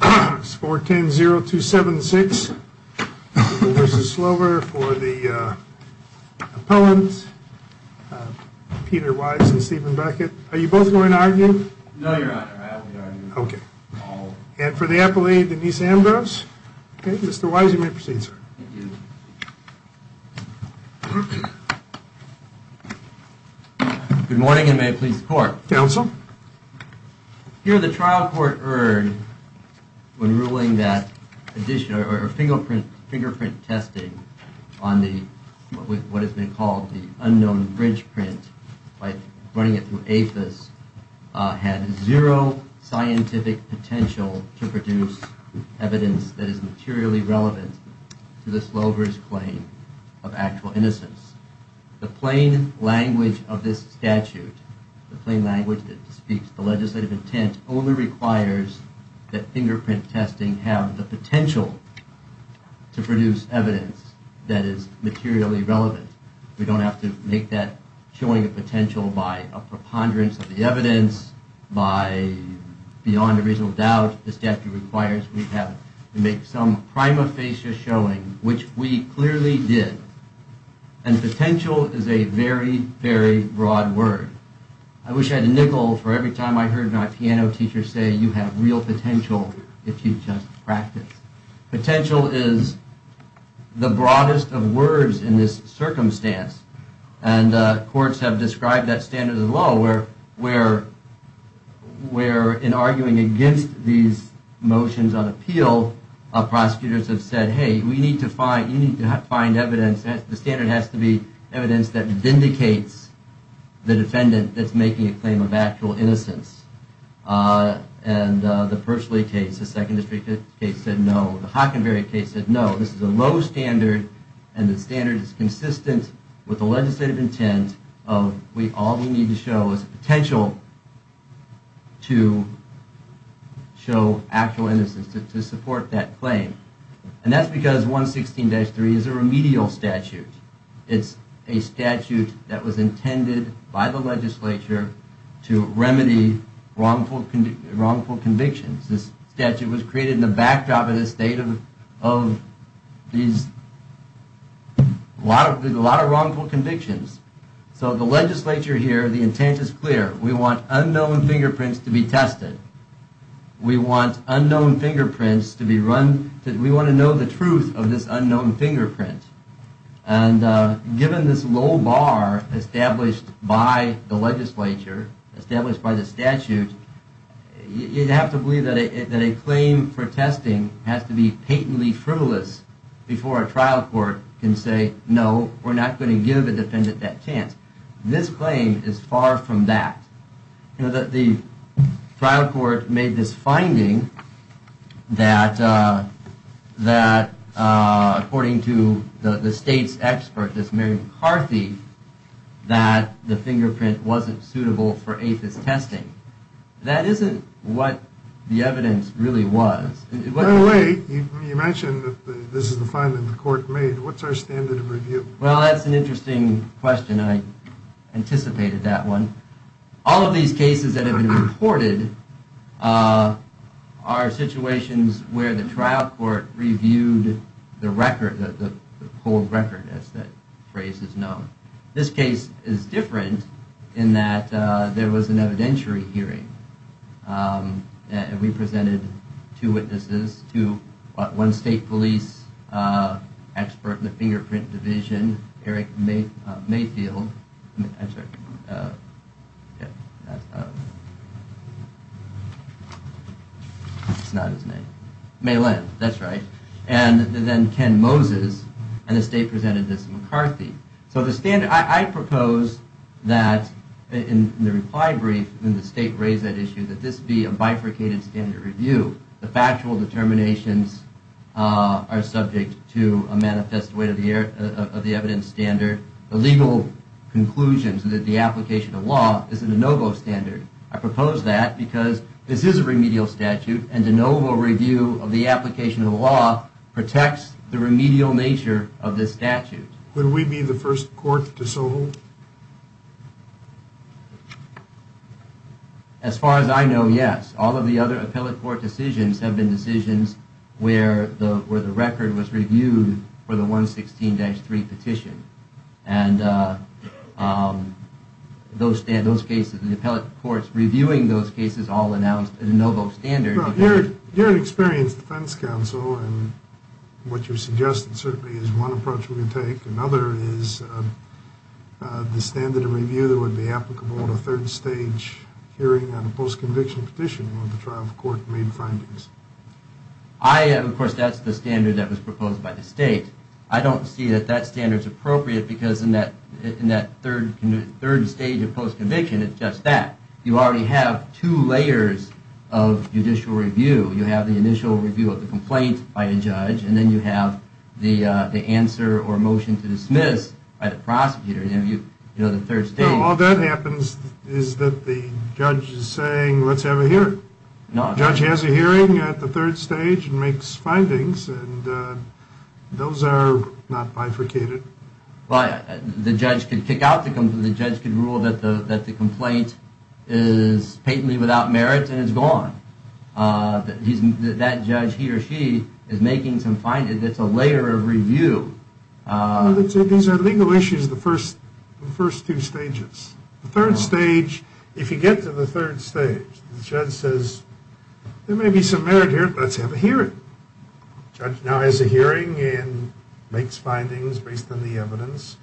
v. Slover for the opponents, Peter Wise and Stephen Beckett. Are you both going to argue? No, Your Honor, I have no argument. Okay. And for the appellee, Denise Ambrose. Okay, Mr. Wise, you may proceed, sir. Thank you. Good morning and may it please the Court. Counsel. Here the trial court heard when ruling that fingerprint testing on what has been called the unknown bridge print by running it through APHIS had zero scientific potential to produce evidence that is materially relevant to the Slover's claim of actual innocence. The plain language of this statute, the plain language that speaks the legislative intent only requires that fingerprint testing have the potential to produce evidence that is materially relevant. We don't have to make that showing a potential by a preponderance of the evidence, by beyond a reasonable doubt the statute requires we have to make some prima facie showing, which we clearly did. And potential is a very, very broad word. I wish I had a nickel for every time I heard my piano teacher say you have real potential if you just practice. Potential is the broadest of words in this circumstance. And courts have described that standard as low where in arguing against these motions on appeal, prosecutors have said, hey, we need to find, you need to find evidence, the standard has to be evidence that vindicates the defendant that's making a claim of actual innocence. No, the Hockenberry case said no. This is a low standard and the standard is consistent with the legislative intent of all we need to show is potential to show actual innocence, to support that claim. And that's because 116-3 is a remedial statute. It's a statute that was intended by the legislature to remedy wrongful convictions. This statute was created in the backdrop of the state of these, a lot of wrongful convictions. So the legislature here, the intent is clear. We want unknown fingerprints to be tested. We want unknown fingerprints to be run, we want to know the truth of this unknown fingerprint. And given this low bar established by the legislature, established by the statute, you'd have to believe that a claim for testing has to be patently frivolous before a trial court can say, no, we're not going to give a defendant that chance. This claim is far from that. The trial court made this finding that according to the state's expert, this Mary McCarthy, that the fingerprint wasn't suitable for APHIS testing. That isn't what the evidence really was. By the way, you mentioned that this is the finding the court made. What's our standard of review? Well, that's an interesting question. I anticipated that one. All of these cases that have been reported are situations where the trial court reviewed the record, the whole record as that phrase is known. This case is different in that there was an evidentiary hearing. We presented two witnesses, one state police expert in the fingerprint division, Eric Mayfield. I'm sorry. It's not his name. That's right. And then Ken Moses, and the state presented this McCarthy. So the standard, I propose that in the reply brief, when the state raised that issue, that this be a bifurcated standard review. The factual determinations are subject to a manifest way of the evidence standard. The legal conclusion to the application of law is a de novo standard. I propose that because this is a remedial statute, and de novo review of the application of law protects the remedial nature of this statute. Would we be the first court to so hold? As far as I know, yes. All of the other appellate court decisions have been decisions where the record was reviewed for the 116-3 petition. And those cases, the appellate courts reviewing those cases all announced a de novo standard. Well, you're an experienced defense counsel, and what you're suggesting certainly is one approach we would take. Another is the standard of review that would be applicable in a third stage hearing on a post-conviction petition where the trial court made findings. I, of course, that's the standard that was proposed by the state. I don't see that that standard's appropriate because in that third stage of post-conviction, it's just that. You already have two layers of judicial review. You have the initial review of the complaint by a judge, and then you have the answer or motion to dismiss by the prosecutor. All that happens is that the judge is saying, let's have a hearing. The judge has a hearing at the third stage and makes findings, and those are not bifurcated. The judge could kick out the complaint. The judge could rule that the complaint is patently without merit and is gone. That judge, he or she, is making some findings. It's a layer of review. These are legal issues, the first two stages. The third stage, if you get to the third stage, the judge says, there may be some merit here. Let's have a hearing. The judge now has a hearing and makes findings based on the evidence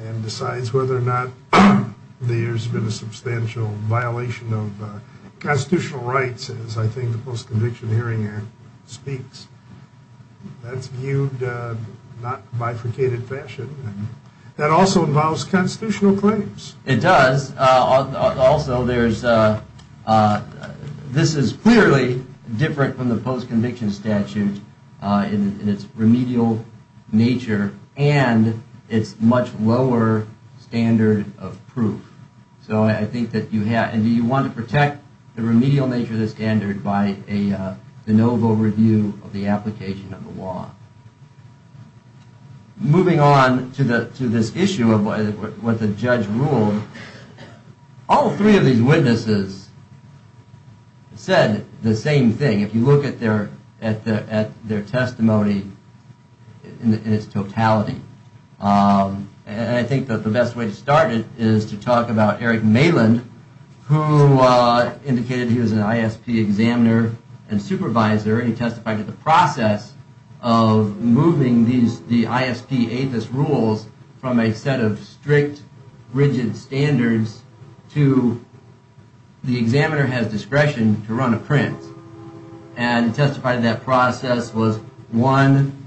and decides whether or not there's been a substantial violation of constitutional rights, as I think the Post-Conviction Hearing Act speaks. That's viewed not bifurcated fashion. That also involves constitutional claims. It does. Also, this is clearly different from the post-conviction statute in its remedial nature and its much lower standard of proof. Do you want to protect the remedial nature of the standard by a de novo review of the application of the law? Moving on to this issue of what the judge ruled, all three of these witnesses said the same thing. If you look at their testimony in its totality, and I think that the best way to start it is to talk about Eric Maland, who indicated he was an ISP examiner and supervisor. He testified that the process of moving the ISP rules from a set of strict, rigid standards to the examiner has discretion to run a print and testified that process was, one,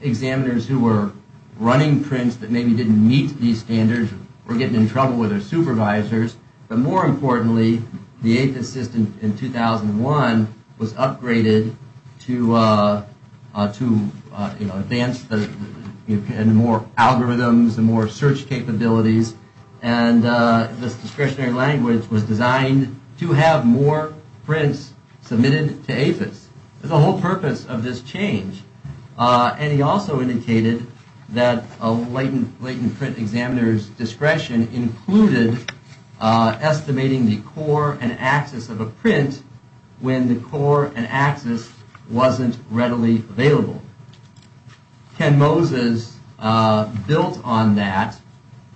examiners who were running prints that maybe didn't meet these standards were getting in trouble with their supervisors. But more importantly, the APHIS system in 2001 was upgraded to advance more algorithms and more search capabilities. And this discretionary language was designed to have more prints submitted to APHIS. There's a whole purpose of this change. And he also indicated that a latent print examiner's discretion included estimating the core and axis of a print when the core and axis wasn't readily available. Ken Moses built on that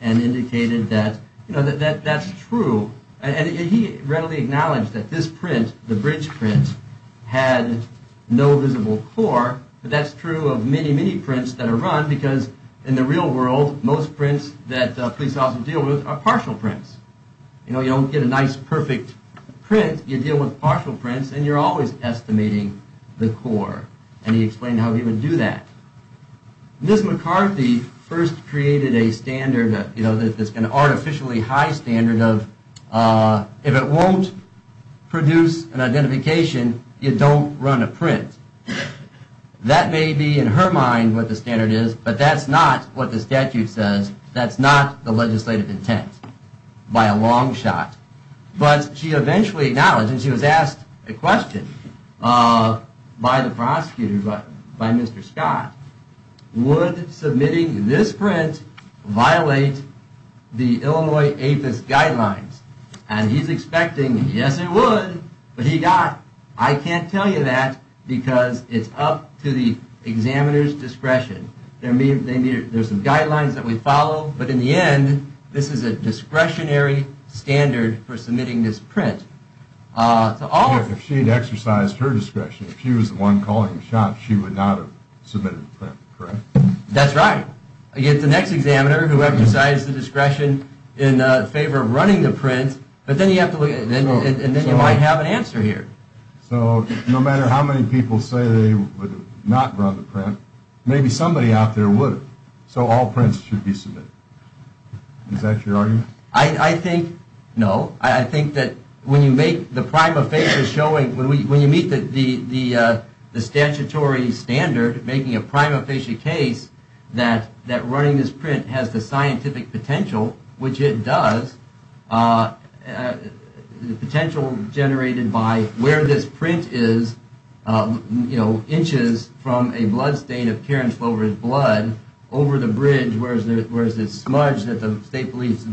and indicated that, you know, that that's true. And he readily acknowledged that this print, the bridge print, had no visible core. But that's true of many, many prints that are run because in the real world, most prints that police officers deal with are partial prints. You know, you don't get a nice, perfect print. You deal with partial prints and you're always estimating the core. And he explained how he would do that. Ms. McCarthy first created a standard, you know, an artificially high standard of if it won't produce an identification, you don't run a print. That may be in her mind what the standard is, but that's not what the statute says. That's not the legislative intent by a long shot. But she eventually acknowledged, and she was asked a question by the prosecutor, by Mr. Scott, would submitting this print violate the Illinois APHIS guidelines? And he's expecting, yes, it would, but he got, I can't tell you that because it's up to the examiner's discretion. There's some guidelines that we follow, but in the end, this is a discretionary standard for submitting this print. If she had exercised her discretion, if she was the one calling the shots, she would not have submitted the print, correct? That's right. You get the next examiner who exercised the discretion in favor of running the print, but then you have to look at, and then you might have an answer here. So no matter how many people say they would not run the print, maybe somebody out there would. So all prints should be submitted. Is that your argument? I think, no. I think that when you make the prima facie showing, when you meet the statutory standard, making a prima facie case that running this print has the scientific potential, which it does, the potential generated by where this print is, you know, inches from a bloodstain of Karen Slover's blood over the bridge, whereas this smudge that the state believes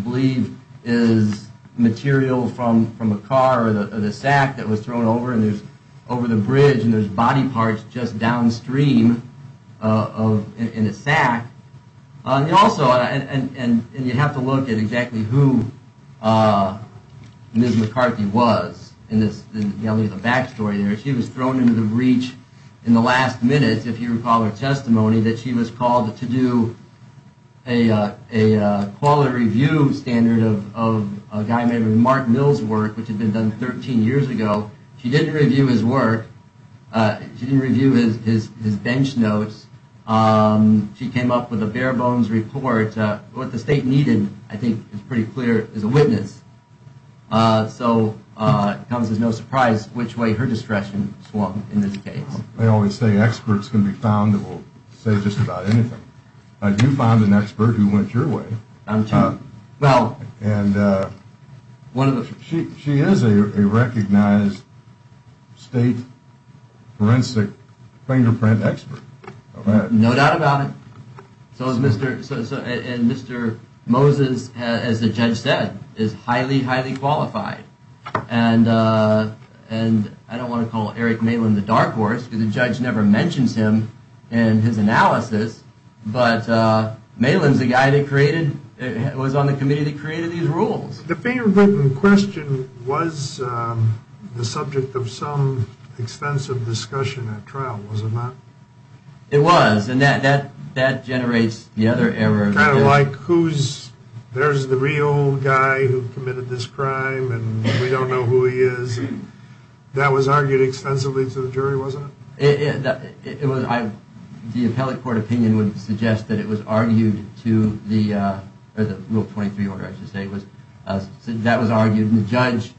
is material from a car or the sack that was thrown over, and there's, over the bridge, and there's body parts just downstream in the sack. Also, and you have to look at exactly who Ms. McCarthy was in the backstory there. She was thrown into the breach in the last minute, if you recall her testimony, that she was called to do a quality review standard of a guy named Mark Mills' work, which had been done 13 years ago. She didn't review his work. She didn't review his bench notes. She came up with a bare bones report. What the state needed, I think, is pretty clear as a witness. So it comes as no surprise which way her discretion swung in this case. They always say experts can be found that will say just about anything. You found an expert who went your way. She is a recognized state forensic fingerprint expert. No doubt about it. And Mr. Moses, as the judge said, is highly, highly qualified. And I don't want to call Eric Malin the dark horse, because the judge never mentions him in his analysis, but Malin's the guy that created, was on the committee that created these rules. The fingerprint in question was the subject of some extensive discussion at trial, was it not? It was. And that generates the other error. Kind of like who's, there's the real guy who committed this crime and we don't know who he is. That was argued extensively to the jury, wasn't it? It was, the appellate court opinion would suggest that it was argued to the rule 23 order, I should say. That was argued and the judge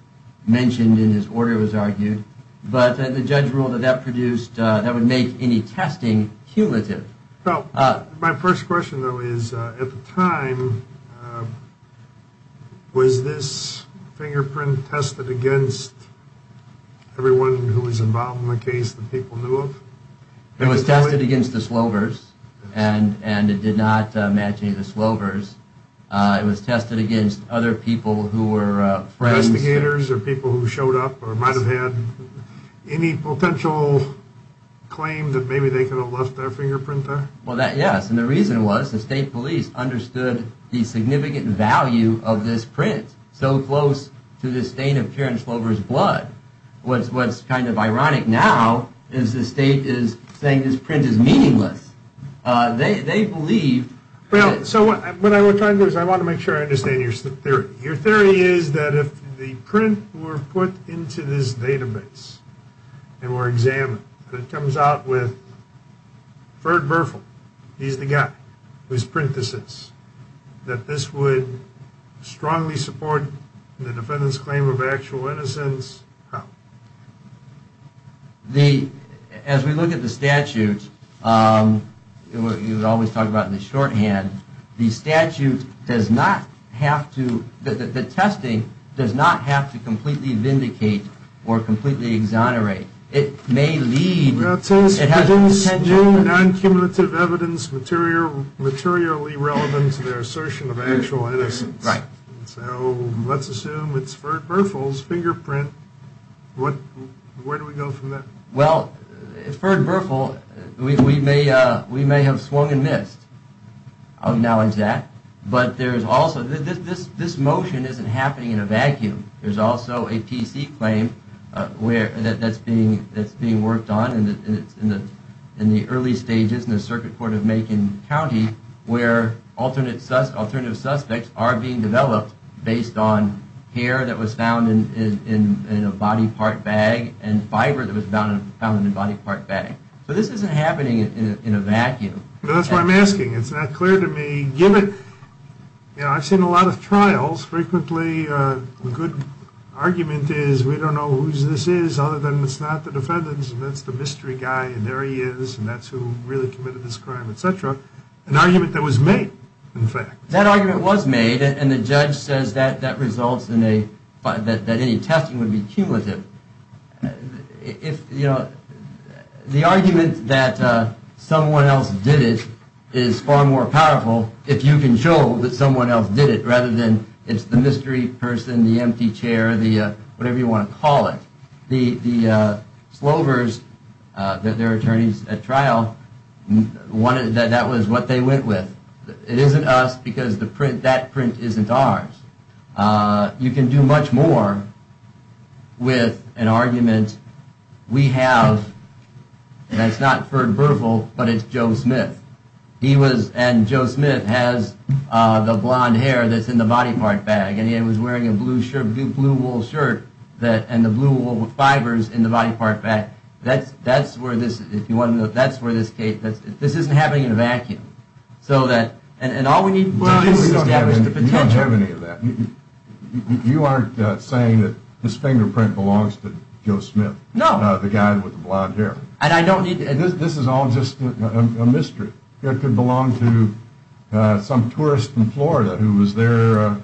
mentioned and his order was argued. But the judge ruled that that produced, that would make any testing cumulative. My first question though is, at the time, was this fingerprint tested against everyone who was involved in the case that people knew of? It was tested against the Slovers and it did not match any of the Slovers. It was tested against other people who were friends. Other investigators or people who showed up or might have had any potential claim that maybe they could have left their fingerprint there? Well, yes, and the reason was the state police understood the significant value of this print so close to the stain of Karen Slovers' blood. What's kind of ironic now is the state is saying this print is meaningless. They believed. Well, so what I'm trying to do is I want to make sure I understand your theory. Your theory is that if the print were put into this database and were examined and it comes out with Ferd Berfel, he's the guy who's print this is, that this would strongly support the defendant's claim of actual innocence? How? As we look at the statute, you would always talk about in the shorthand, the statute does not have to, the testing does not have to completely vindicate or completely exonerate. It may lead, it has the potential. Non-cumulative evidence materially relevant to their assertion of actual innocence. So let's assume it's Ferd Berfel's fingerprint. Where do we go from there? Well, Ferd Berfel, we may have swung and missed. I'll acknowledge that. But there's also, this motion isn't happening in a vacuum. There's also a PC claim that's being worked on in the early stages in the Circuit Court of Macon County where alternative suspects are being developed based on hair that was found in a body part bag and fiber that was found in a body part bag. But this isn't happening in a vacuum. That's what I'm asking. It's not clear to me, given, you know, I've seen a lot of trials, frequently a good argument is we don't know whose this is other than it's not the defendant's and that's the mystery guy and there he is and that's who really committed this crime, etc. An argument that was made, in fact. That argument was made and the judge says that that results in a, that any testing would be cumulative. If, you know, the argument that someone else did it is far more powerful if you can show that someone else did it rather than it's the mystery person, the empty chair, the whatever you want to call it. The Slovers, their attorneys at trial, wanted, that was what they went with. It isn't us because the print, that print isn't ours. You can do much more with an argument we have that's not for Burville but it's Joe Smith. He was, and Joe Smith has the blonde hair that's in the body part bag and he was wearing a blue shirt, blue wool shirt and the blue wool fibers in the body part bag. That's where this, if you want to know, that's where this case, this isn't happening in a vacuum. So that, and all we need is to establish the potential. You don't have any of that. You aren't saying that this fingerprint belongs to Joe Smith. No. The guy with the blonde hair. This is all just a mystery. It could belong to some tourist in Florida who was there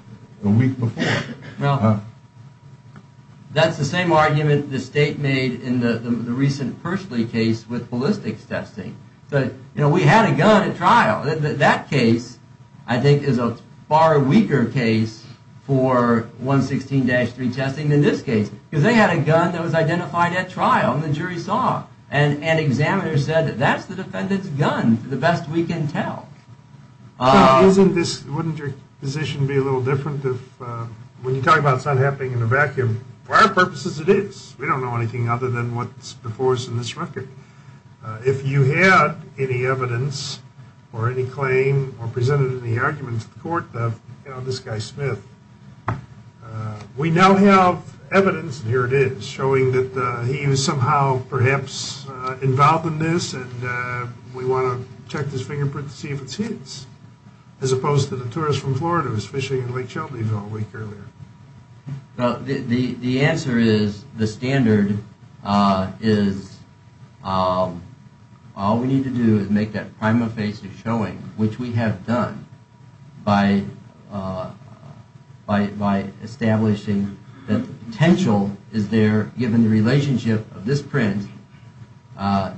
the week before. Well, that's the same argument the state made in the recent Pershley case with ballistics testing. But, you know, we had a gun at trial. That case, I think, is a far weaker case for 116-3 testing than this case because they had a gun that was identified at trial and the jury saw and an examiner said that that's the defendant's gun for the best we can tell. Isn't this, wouldn't your position be a little different if, when you talk about it's not happening in a vacuum, for our purposes it is. We don't know anything other than what's before us in this record. If you had any evidence or any claim or presented any argument to the court of, you know, this guy Smith, we now have evidence, and here it is, showing that he was somehow perhaps involved in this and we want to check this fingerprint to see if it's his, as opposed to the tourist from Florida who was fishing in Lake Shelbyville a week earlier. The answer is the standard is all we need to do is make that prima facie showing, which we have done, by establishing that the potential is there given the relationship of this print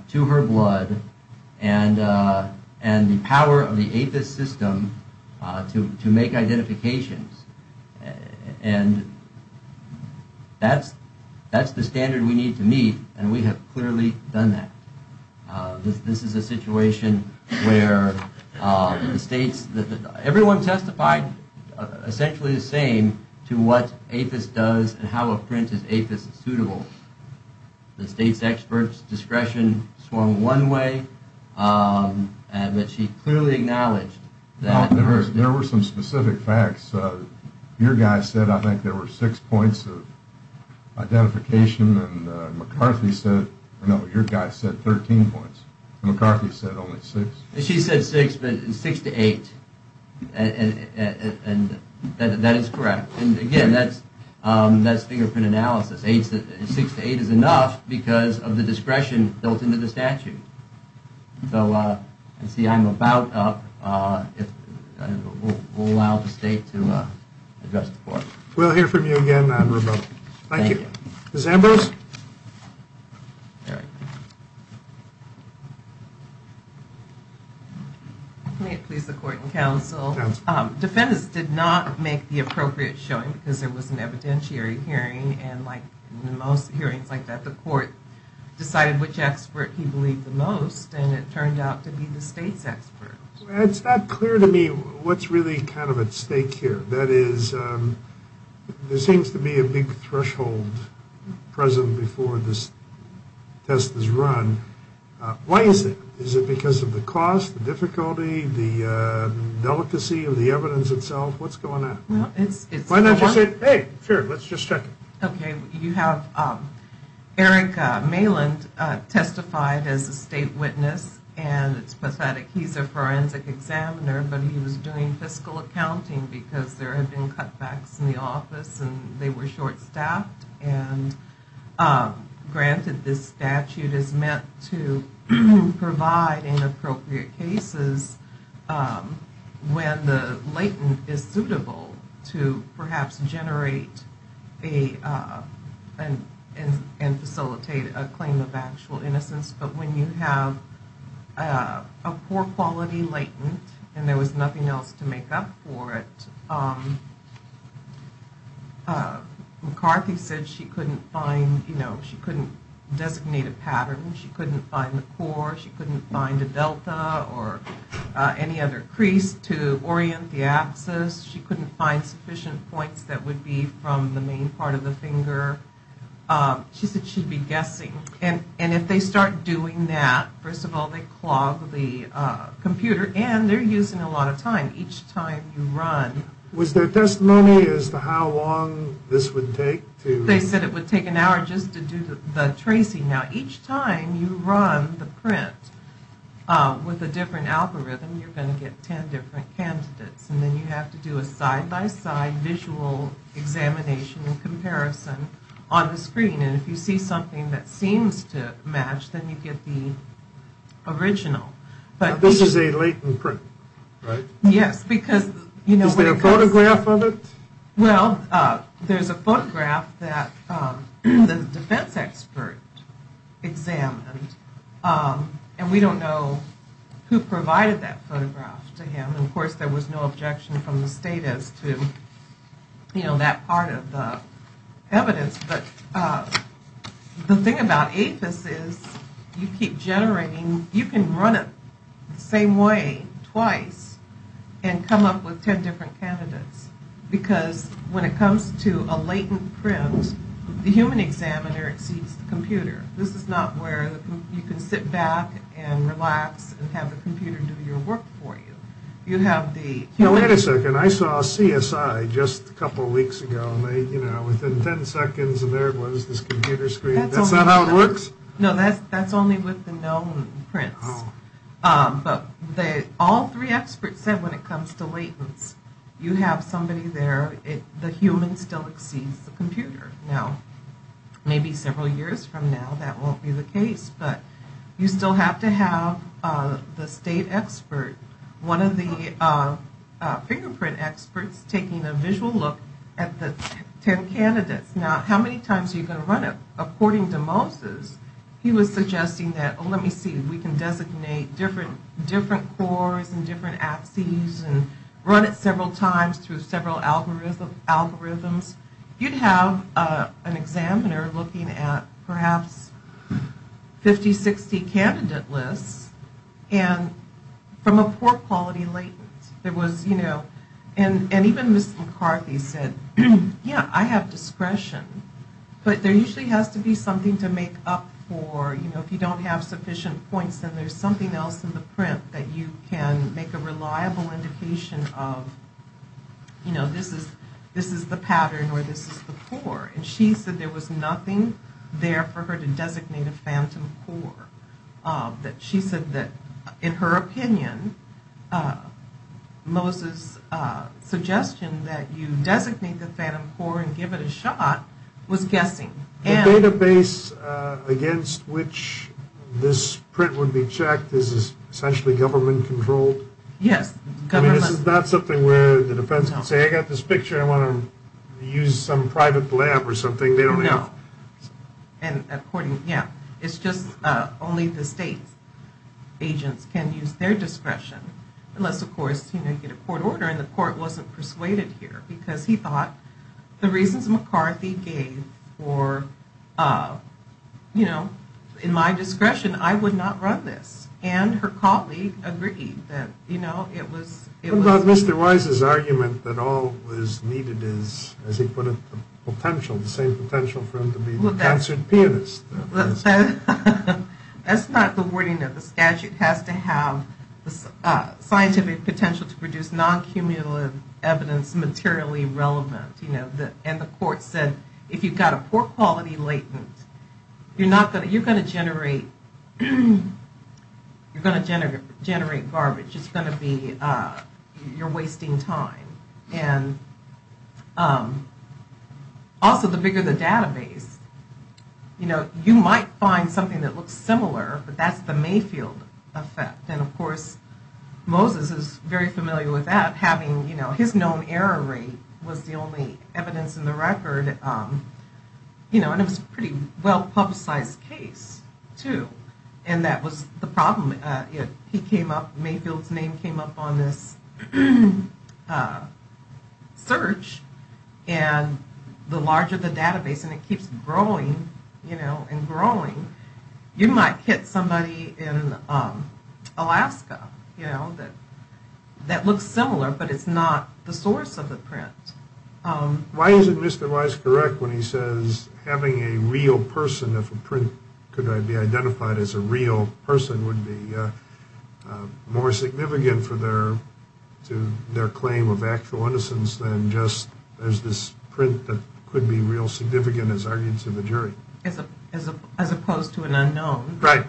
to her blood and the power of the APHIS system to make identifications and that's the standard we need to meet and we have clearly done that. This is a situation where the states, everyone testified essentially the same to what APHIS does and how a print is APHIS suitable. The state's experts discretion swung one way, but she clearly acknowledged that. There were some specific facts. Your guy said I think there were six points of identification and McCarthy said, no, your guy said 13 points. McCarthy said only six. She said six, but six to eight, and that is correct. Again, that's fingerprint analysis. Six to eight is enough because of the discretion built into the statute. See, I'm about up. We'll allow the state to address the court. We'll hear from you again, Admiral. Thank you. May it please the court and counsel, defendants did not make the appropriate showing because there was an evidentiary hearing and like most hearings like that, the court decided which expert he believed the most and it turned out to be the state's expert. It's not clear to me what's really kind of at stake here. That is, there seems to be a big threshold present before this test is run. Why is it? Is it because of the cost, the difficulty, the delicacy of the evidence itself? What's going on? Why don't you say, hey, sure, let's just check. Okay. You have Eric Maland testified as a state witness and it's pathetic. He's a forensic examiner, but he was doing fiscal accounting because there had been cutbacks in the office and they were short staffed. Granted, this statute is meant to provide inappropriate cases when the latent is suitable to perhaps generate and facilitate a claim of actual innocence. But when you have a poor quality latent and there was nothing else to make up for it, McCarthy said she couldn't find, you know, she couldn't designate a pattern. She couldn't find the core. She couldn't find a delta or any other crease to orient the axis. She couldn't find sufficient points that would be from the main part of the finger. She said she'd be guessing. And if they start doing that, first of all, they clog the computer and they're using a lot of time. Was there testimony as to how long this would take? They said it would take an hour just to do the tracing. Now, each time you run the print with a different algorithm, you're going to get 10 different candidates. And then you have to do a side-by-side visual examination and comparison on the screen. And if you see something that seems to match, then you get the original. This is a latent print, right? Yes. Is there a photograph of it? Well, there's a photograph that the defense expert examined. And we don't know who provided that photograph to him. Of course, there was no objection from the state as to, you know, that part of the evidence. But the thing about APHIS is you keep generating. You can run it the same way twice and come up with 10 different candidates. Because when it comes to a latent print, the human examiner exceeds the computer. This is not where you can sit back and relax and have the computer do your work for you. You have the human. Wait a second. I saw CSI just a couple weeks ago. And they, you know, within 10 seconds, and there it was, this computer screen. That's not how it works? No, that's only with the known prints. But all three experts said when it comes to latents, you have somebody there. The human still exceeds the computer. Now, maybe several years from now, that won't be the case. But you still have to have the state expert, one of the fingerprint experts, taking a visual look at the 10 candidates. Now, how many times are you going to run it? According to Moses, he was suggesting that, oh, let me see. We can designate different cores and different axes and run it several times through several algorithms. You'd have an examiner looking at perhaps 50, 60 candidate lists from a poor-quality latent. And even Ms. McCarthy said, yeah, I have discretion. But there usually has to be something to make up for, you know, if you don't have sufficient points, then there's something else in the print that you can make a reliable indication of, you know, this is the pattern or this is the core. And she said there was nothing there for her to designate a phantom core. She said that, in her opinion, Moses' suggestion that you designate the phantom core and give it a shot was guessing. The database against which this print would be checked is essentially government-controlled? Yes. I mean, this is not something where the defense can say, I got this picture, I want to use some private lab or something. No. And according, yeah, it's just only the state agents can use their discretion, unless, of course, you know, you get a court order and the court wasn't persuaded here, because he thought the reasons McCarthy gave for, you know, in my discretion, I would not run this. And her colleague agreed that, you know, it was- Moses' argument that all was needed is, as he put it, the potential, the same potential for him to be the concert pianist. That's not the wording of the statute. It has to have the scientific potential to produce non-cumulative evidence materially relevant. You know, and the court said, if you've got a poor-quality latent, you're going to generate garbage. It's going to be- you're wasting time. And also, the bigger the database, you know, you might find something that looks similar, but that's the Mayfield effect. And, of course, Moses is very familiar with that, having, you know, his known error rate was the only evidence in the record, you know, and it was a pretty well-publicized case, too, and that was the problem. It- he came up- Mayfield's name came up on this search, and the larger the database, and it keeps growing, you know, and growing, you might hit somebody in Alaska, you know, that looks similar, but it's not the source of the print. Why isn't Mr. Weiss correct when he says having a real person, if a print could be identified as a real person, would be more significant for their- to their claim of actual innocence than just there's this print that could be real significant as argued to the jury? As opposed to an unknown. Right.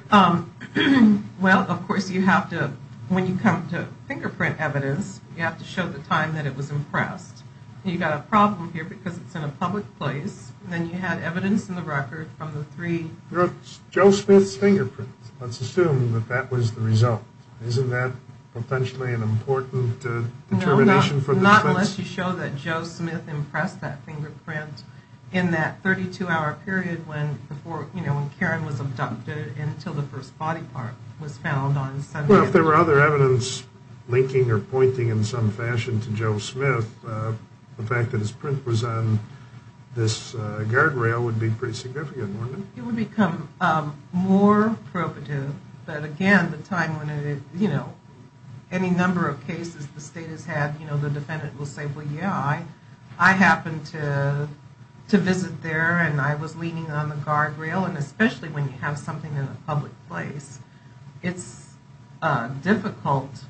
Well, of course, you have to- when you come to fingerprint evidence, you have to show the time that it was impressed. You've got a problem here because it's in a public place, and then you had evidence in the record from the three- Joe Smith's fingerprints. Let's assume that that was the result. Isn't that potentially an important determination for the defense? No, not unless you show that Joe Smith impressed that fingerprint in that 32-hour period when, you know, when Karen was abducted until the first body part was found on Sunday. Well, if there were other evidence linking or pointing in some fashion to Joe Smith, the fact that his print was on this guardrail would be pretty significant, wouldn't it? It would become more probative, but again, the time when it, you know, any number of cases the state has had, you know, the defendant will say, well, yeah, I happened to visit there and I was leaning on the guardrail, and especially when you have something in a public place, it's difficult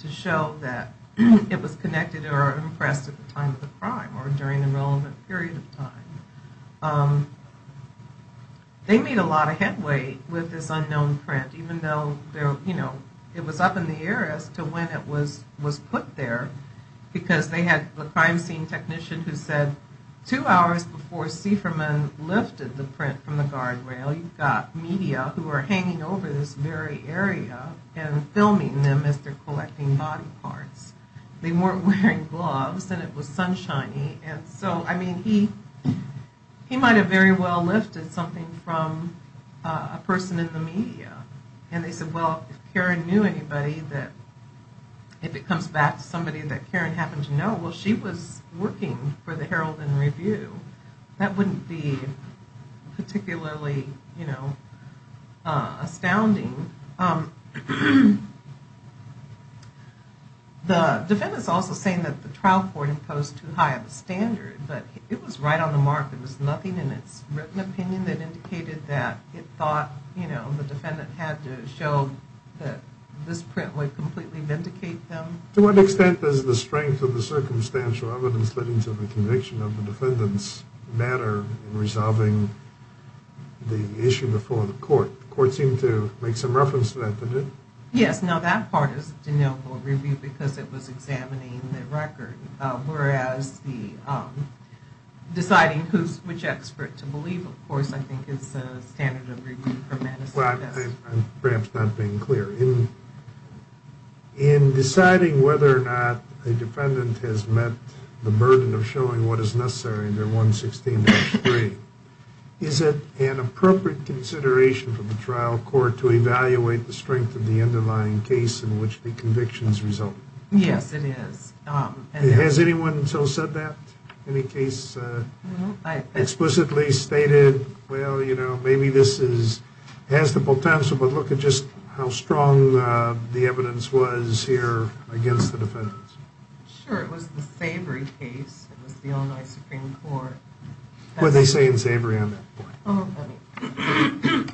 to show that it was connected or impressed at the time of the crime or during a relevant period of time. They made a lot of headway with this unknown print, even though, you know, it was up in the air as to when it was put there because they had the crime scene technician who said two hours before Sieferman lifted the print from the guardrail, you've got media who are hanging over this very area and filming them as they're collecting body parts. They weren't wearing gloves and it was sunshiny, and so, I mean, he might have very well lifted something from a person in the media. And they said, well, if Karen knew anybody that, if it comes back to somebody that Karen happened to know, well, she was working for the Herald and Review. That wouldn't be particularly, you know, astounding. The defendant's also saying that the trial court imposed too high of a standard, but it was right on the mark. There was nothing in its written opinion that indicated that it thought, you know, the defendant had to show that this print would completely vindicate them. To what extent does the strength of the circumstantial evidence leading to the conviction of the defendants matter in resolving the issue before the court? The court seemed to make some reference to that, didn't it? Yes. Now, that part is deniable review because it was examining the record, whereas deciding which expert to believe, of course, I think is a standard of review for medicine. I'm perhaps not being clear. In deciding whether or not a defendant has met the burden of showing what is necessary under 116-3, is it an appropriate consideration for the trial court to evaluate the strength of the underlying case in which the convictions result? Yes, it is. Has anyone so said that? Any case explicitly stated, well, you know, maybe this has the potential, but look at just how strong the evidence was here against the defendants. Sure, it was the Savory case. It was the Illinois Supreme Court. What did they say in Savory on that point? Oh,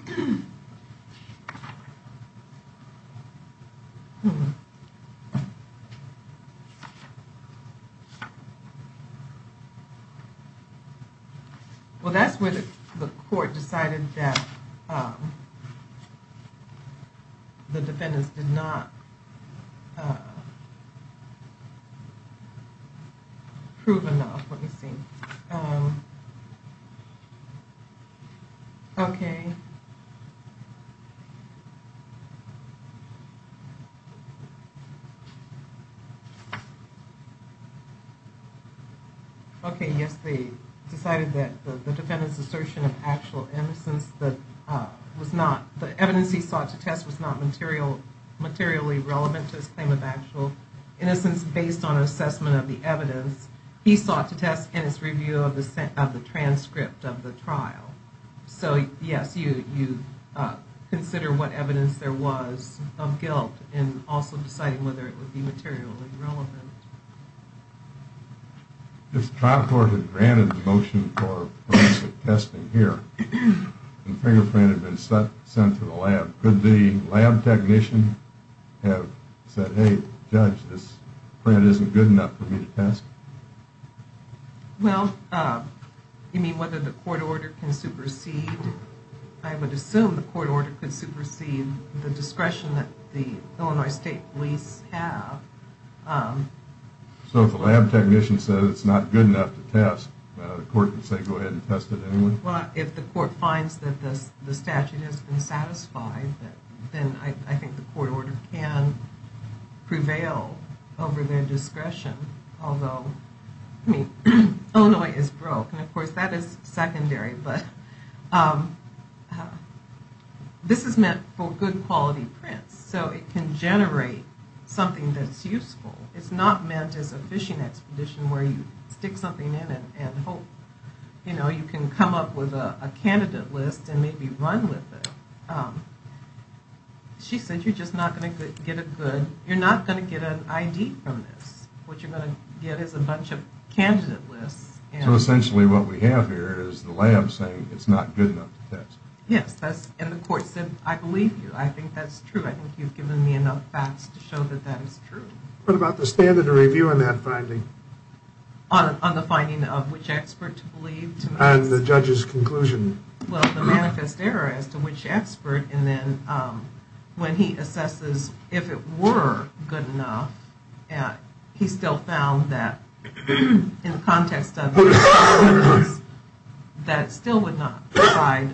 let me. Well, that's where the court decided that the defendants did not prove enough, let me see. Okay. Okay, yes, they decided that the defendant's assertion of actual innocence was not, the evidence he sought to test was not materially relevant to his claim of actual innocence based on assessment of the evidence. He sought to test in his review of the transcript of the trial. So, yes, you consider what evidence there was of guilt in also deciding whether it would be materially relevant. If the trial court had granted the motion for forensic testing here and the fingerprint had been sent to the lab, could the lab technician have said, hey, judge, this print isn't good enough for me to test? Well, you mean whether the court order can supersede, I would assume the court order could supersede the discretion that the Illinois State Police have. So if the lab technician says it's not good enough to test, the court can say go ahead and test it anyway? Well, if the court finds that the statute has been satisfied, then I think the court order can prevail over their discretion. Although, I mean, Illinois is broke, and of course that is secondary, but this is meant for good quality prints, so it can generate something that's useful. It's not meant as a fishing expedition where you stick something in and hope, you know, you can come up with a candidate list and maybe run with it. She said you're just not going to get a good, you're not going to get an ID from this. What you're going to get is a bunch of candidate lists. So essentially what we have here is the lab saying it's not good enough to test. Yes, and the court said, I believe you. I think that's true. I think you've given me enough facts to show that that is true. What about the standard of review on that finding? On the finding of which expert to believe? And the judge's conclusion. Well, the manifest error as to which expert, and then when he assesses if it were good enough, he still found that in the context of the standards, that it still would not provide,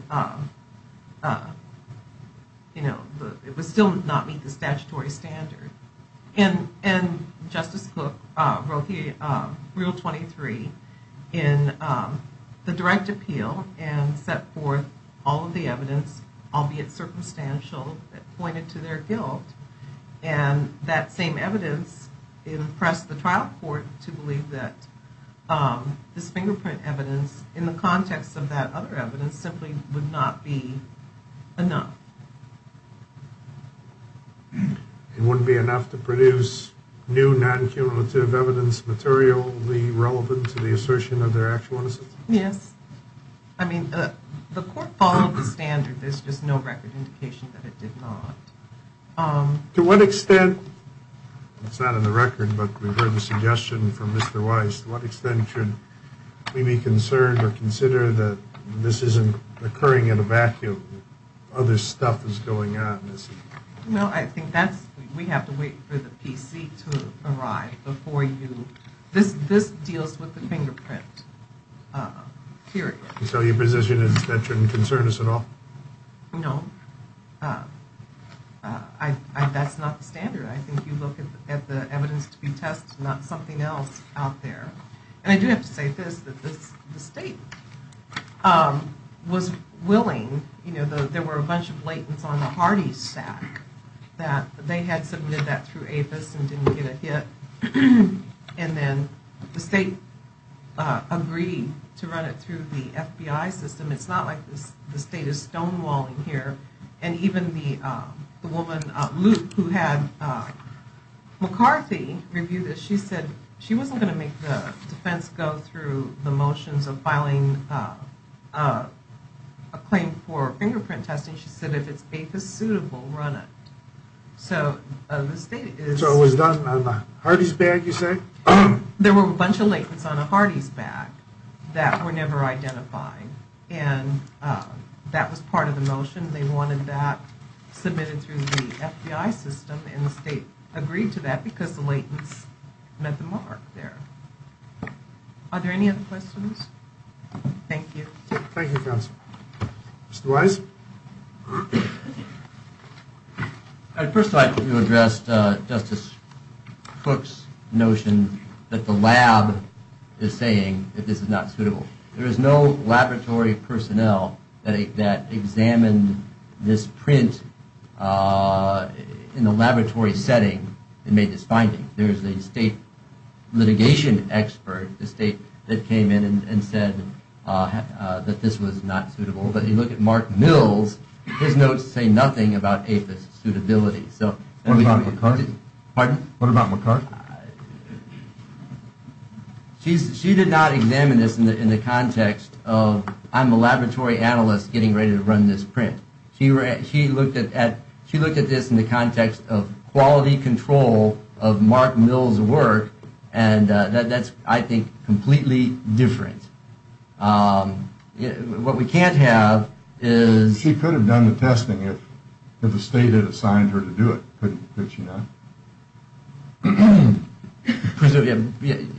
you know, it would still not meet the statutory standard. And Justice Cook wrote Rule 23 in the direct appeal and set forth all of the evidence, albeit circumstantial, that pointed to their guilt. And that same evidence impressed the trial court to believe that this fingerprint evidence, in the context of that other evidence, simply would not be enough. It wouldn't be enough to produce new non-cumulative evidence materially relevant to the assertion of their actual innocence? Yes. I mean, the court followed the standard. There's just no record indication that it did not. To what extent, it's not in the record, but we've heard the suggestion from Mr. Weiss, to what extent should we be concerned or consider that this isn't occurring in a vacuum, that other stuff is going on? Well, I think that's, we have to wait for the PC to arrive before you, this deals with the fingerprint, periodically. So your position is that that shouldn't concern us at all? No. That's not the standard. I think you look at the evidence to be tested, not something else out there. And I do have to say this, that the state was willing, you know, there were a bunch of blatants on the Hardee's stack, that they had submitted that through APHIS and didn't get a hit, and then the state agreed to run it through the FBI system. It's not like the state is stonewalling here. And even the woman, Luke, who had McCarthy review this, she said she wasn't going to make the defense go through the motions of filing a claim for fingerprint testing. She said if it's APHIS suitable, run it. So the state is... So it was done on the Hardee's bag, you say? There were a bunch of latents on the Hardee's bag that were never identified, and that was part of the motion. They wanted that submitted through the FBI system, and the state agreed to that because the latents met the mark there. Are there any other questions? Thank you. Thank you, counsel. Mr. Wise? First I'd like to address Justice Cook's notion that the lab is saying that this is not suitable. There is no laboratory personnel that examined this print in a laboratory setting and made this finding. There is a state litigation expert, the state that came in and said that this was not suitable. But you look at Mark Mill's, his notes say nothing about APHIS suitability. What about McCarthy? Pardon? What about McCarthy? She did not examine this in the context of I'm a laboratory analyst getting ready to run this print. She looked at this in the context of quality control of Mark Mill's work, and that's, I think, completely different. What we can't have is... If the state had assigned her to do it, could she not?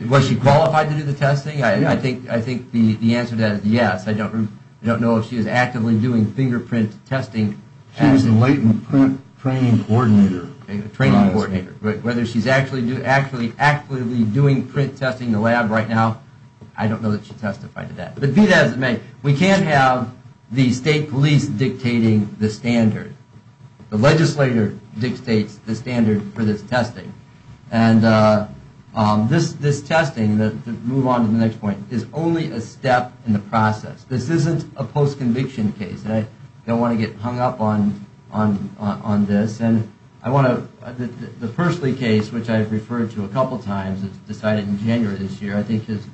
Was she qualified to do the testing? I think the answer to that is yes. I don't know if she was actively doing fingerprint testing. She was the latent print training coordinator. Training coordinator. Whether she's actually doing print testing in the lab right now, I don't know that she testified to that. But be that as it may, we can't have the state police dictating the standard. The legislator dictates the standard for this testing. And this testing, to move on to the next point, is only a step in the process. This isn't a post-conviction case. I don't want to get hung up on this. The Pursley case, which I've referred to a couple times, decided in January this year, I think is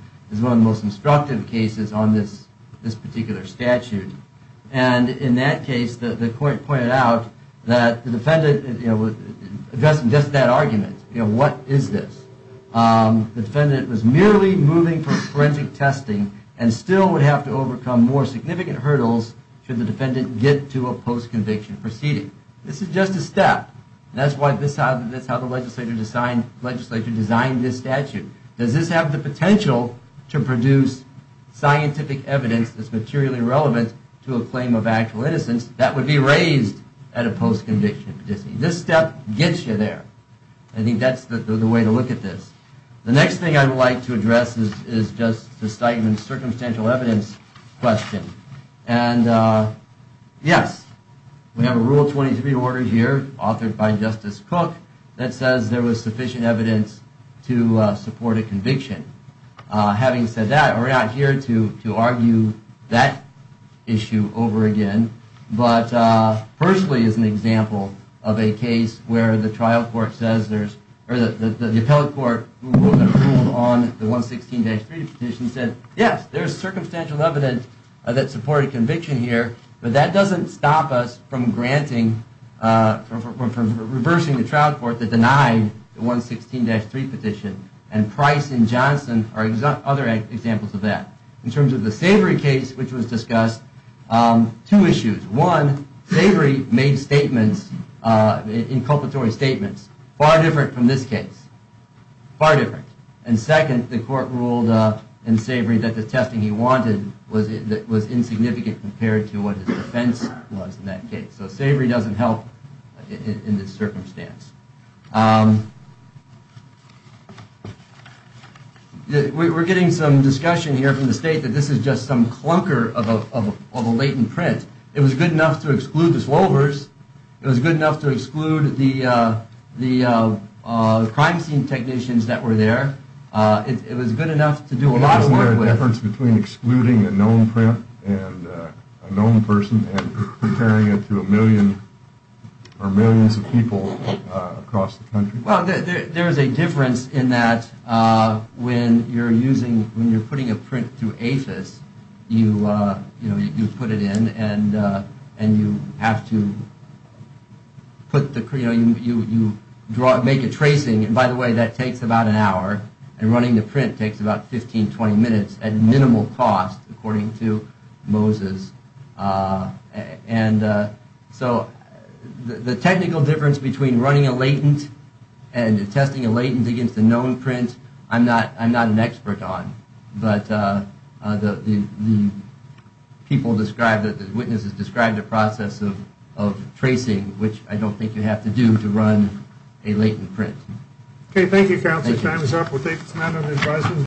one of the most instructive cases on this particular statute. And in that case, the court pointed out that the defendant, addressing just that argument, what is this? The defendant was merely moving for forensic testing and still would have to overcome more significant hurdles should the defendant get to a post-conviction proceeding. This is just a step. That's how the legislature designed this statute. Does this have the potential to produce scientific evidence that's materially relevant to a claim of actual innocence that would be raised at a post-conviction proceeding? This step gets you there. I think that's the way to look at this. The next thing I would like to address is just the statement of circumstantial evidence question. And yes, we have a Rule 23 order here authored by Justice Cook that says there was sufficient evidence to support a conviction. Having said that, we're not here to argue that issue over again. But firstly, as an example of a case where the trial court says there's, or the appellate court who ruled on the 116-3 petition said, yes, there's circumstantial evidence that supported conviction here. But that doesn't stop us from granting, from reversing the trial court that denied the 116-3 petition. And Price and Johnson are other examples of that. In terms of the Savory case, which was discussed, two issues. One, Savory made statements, inculpatory statements, far different from this case, far different. And second, the court ruled in Savory that the testing he wanted was insignificant compared to what his defense was in that case. So Savory doesn't help in this circumstance. We're getting some discussion here from the state that this is just some clunker of a latent print. It was good enough to exclude the slovers. It was good enough to exclude the crime scene technicians that were there. It was good enough to do a lot of work with. Is there a difference between excluding a known print and a known person and comparing it to a million or millions of people across the country? Well, there is a difference in that when you're using, when you're putting a print through APHIS, you put it in and you have to put the, you know, you make a tracing. And by the way, that takes about an hour. And running the print takes about 15, 20 minutes at minimal cost, according to Moses. And so the technical difference between running a latent and testing a latent against a known print, I'm not, I'm not an expert on. But the people described, the witnesses described the process of tracing, which I don't think you have to do to run a latent print. Okay, thank you, counsel. Time is up. We'll take some other advice.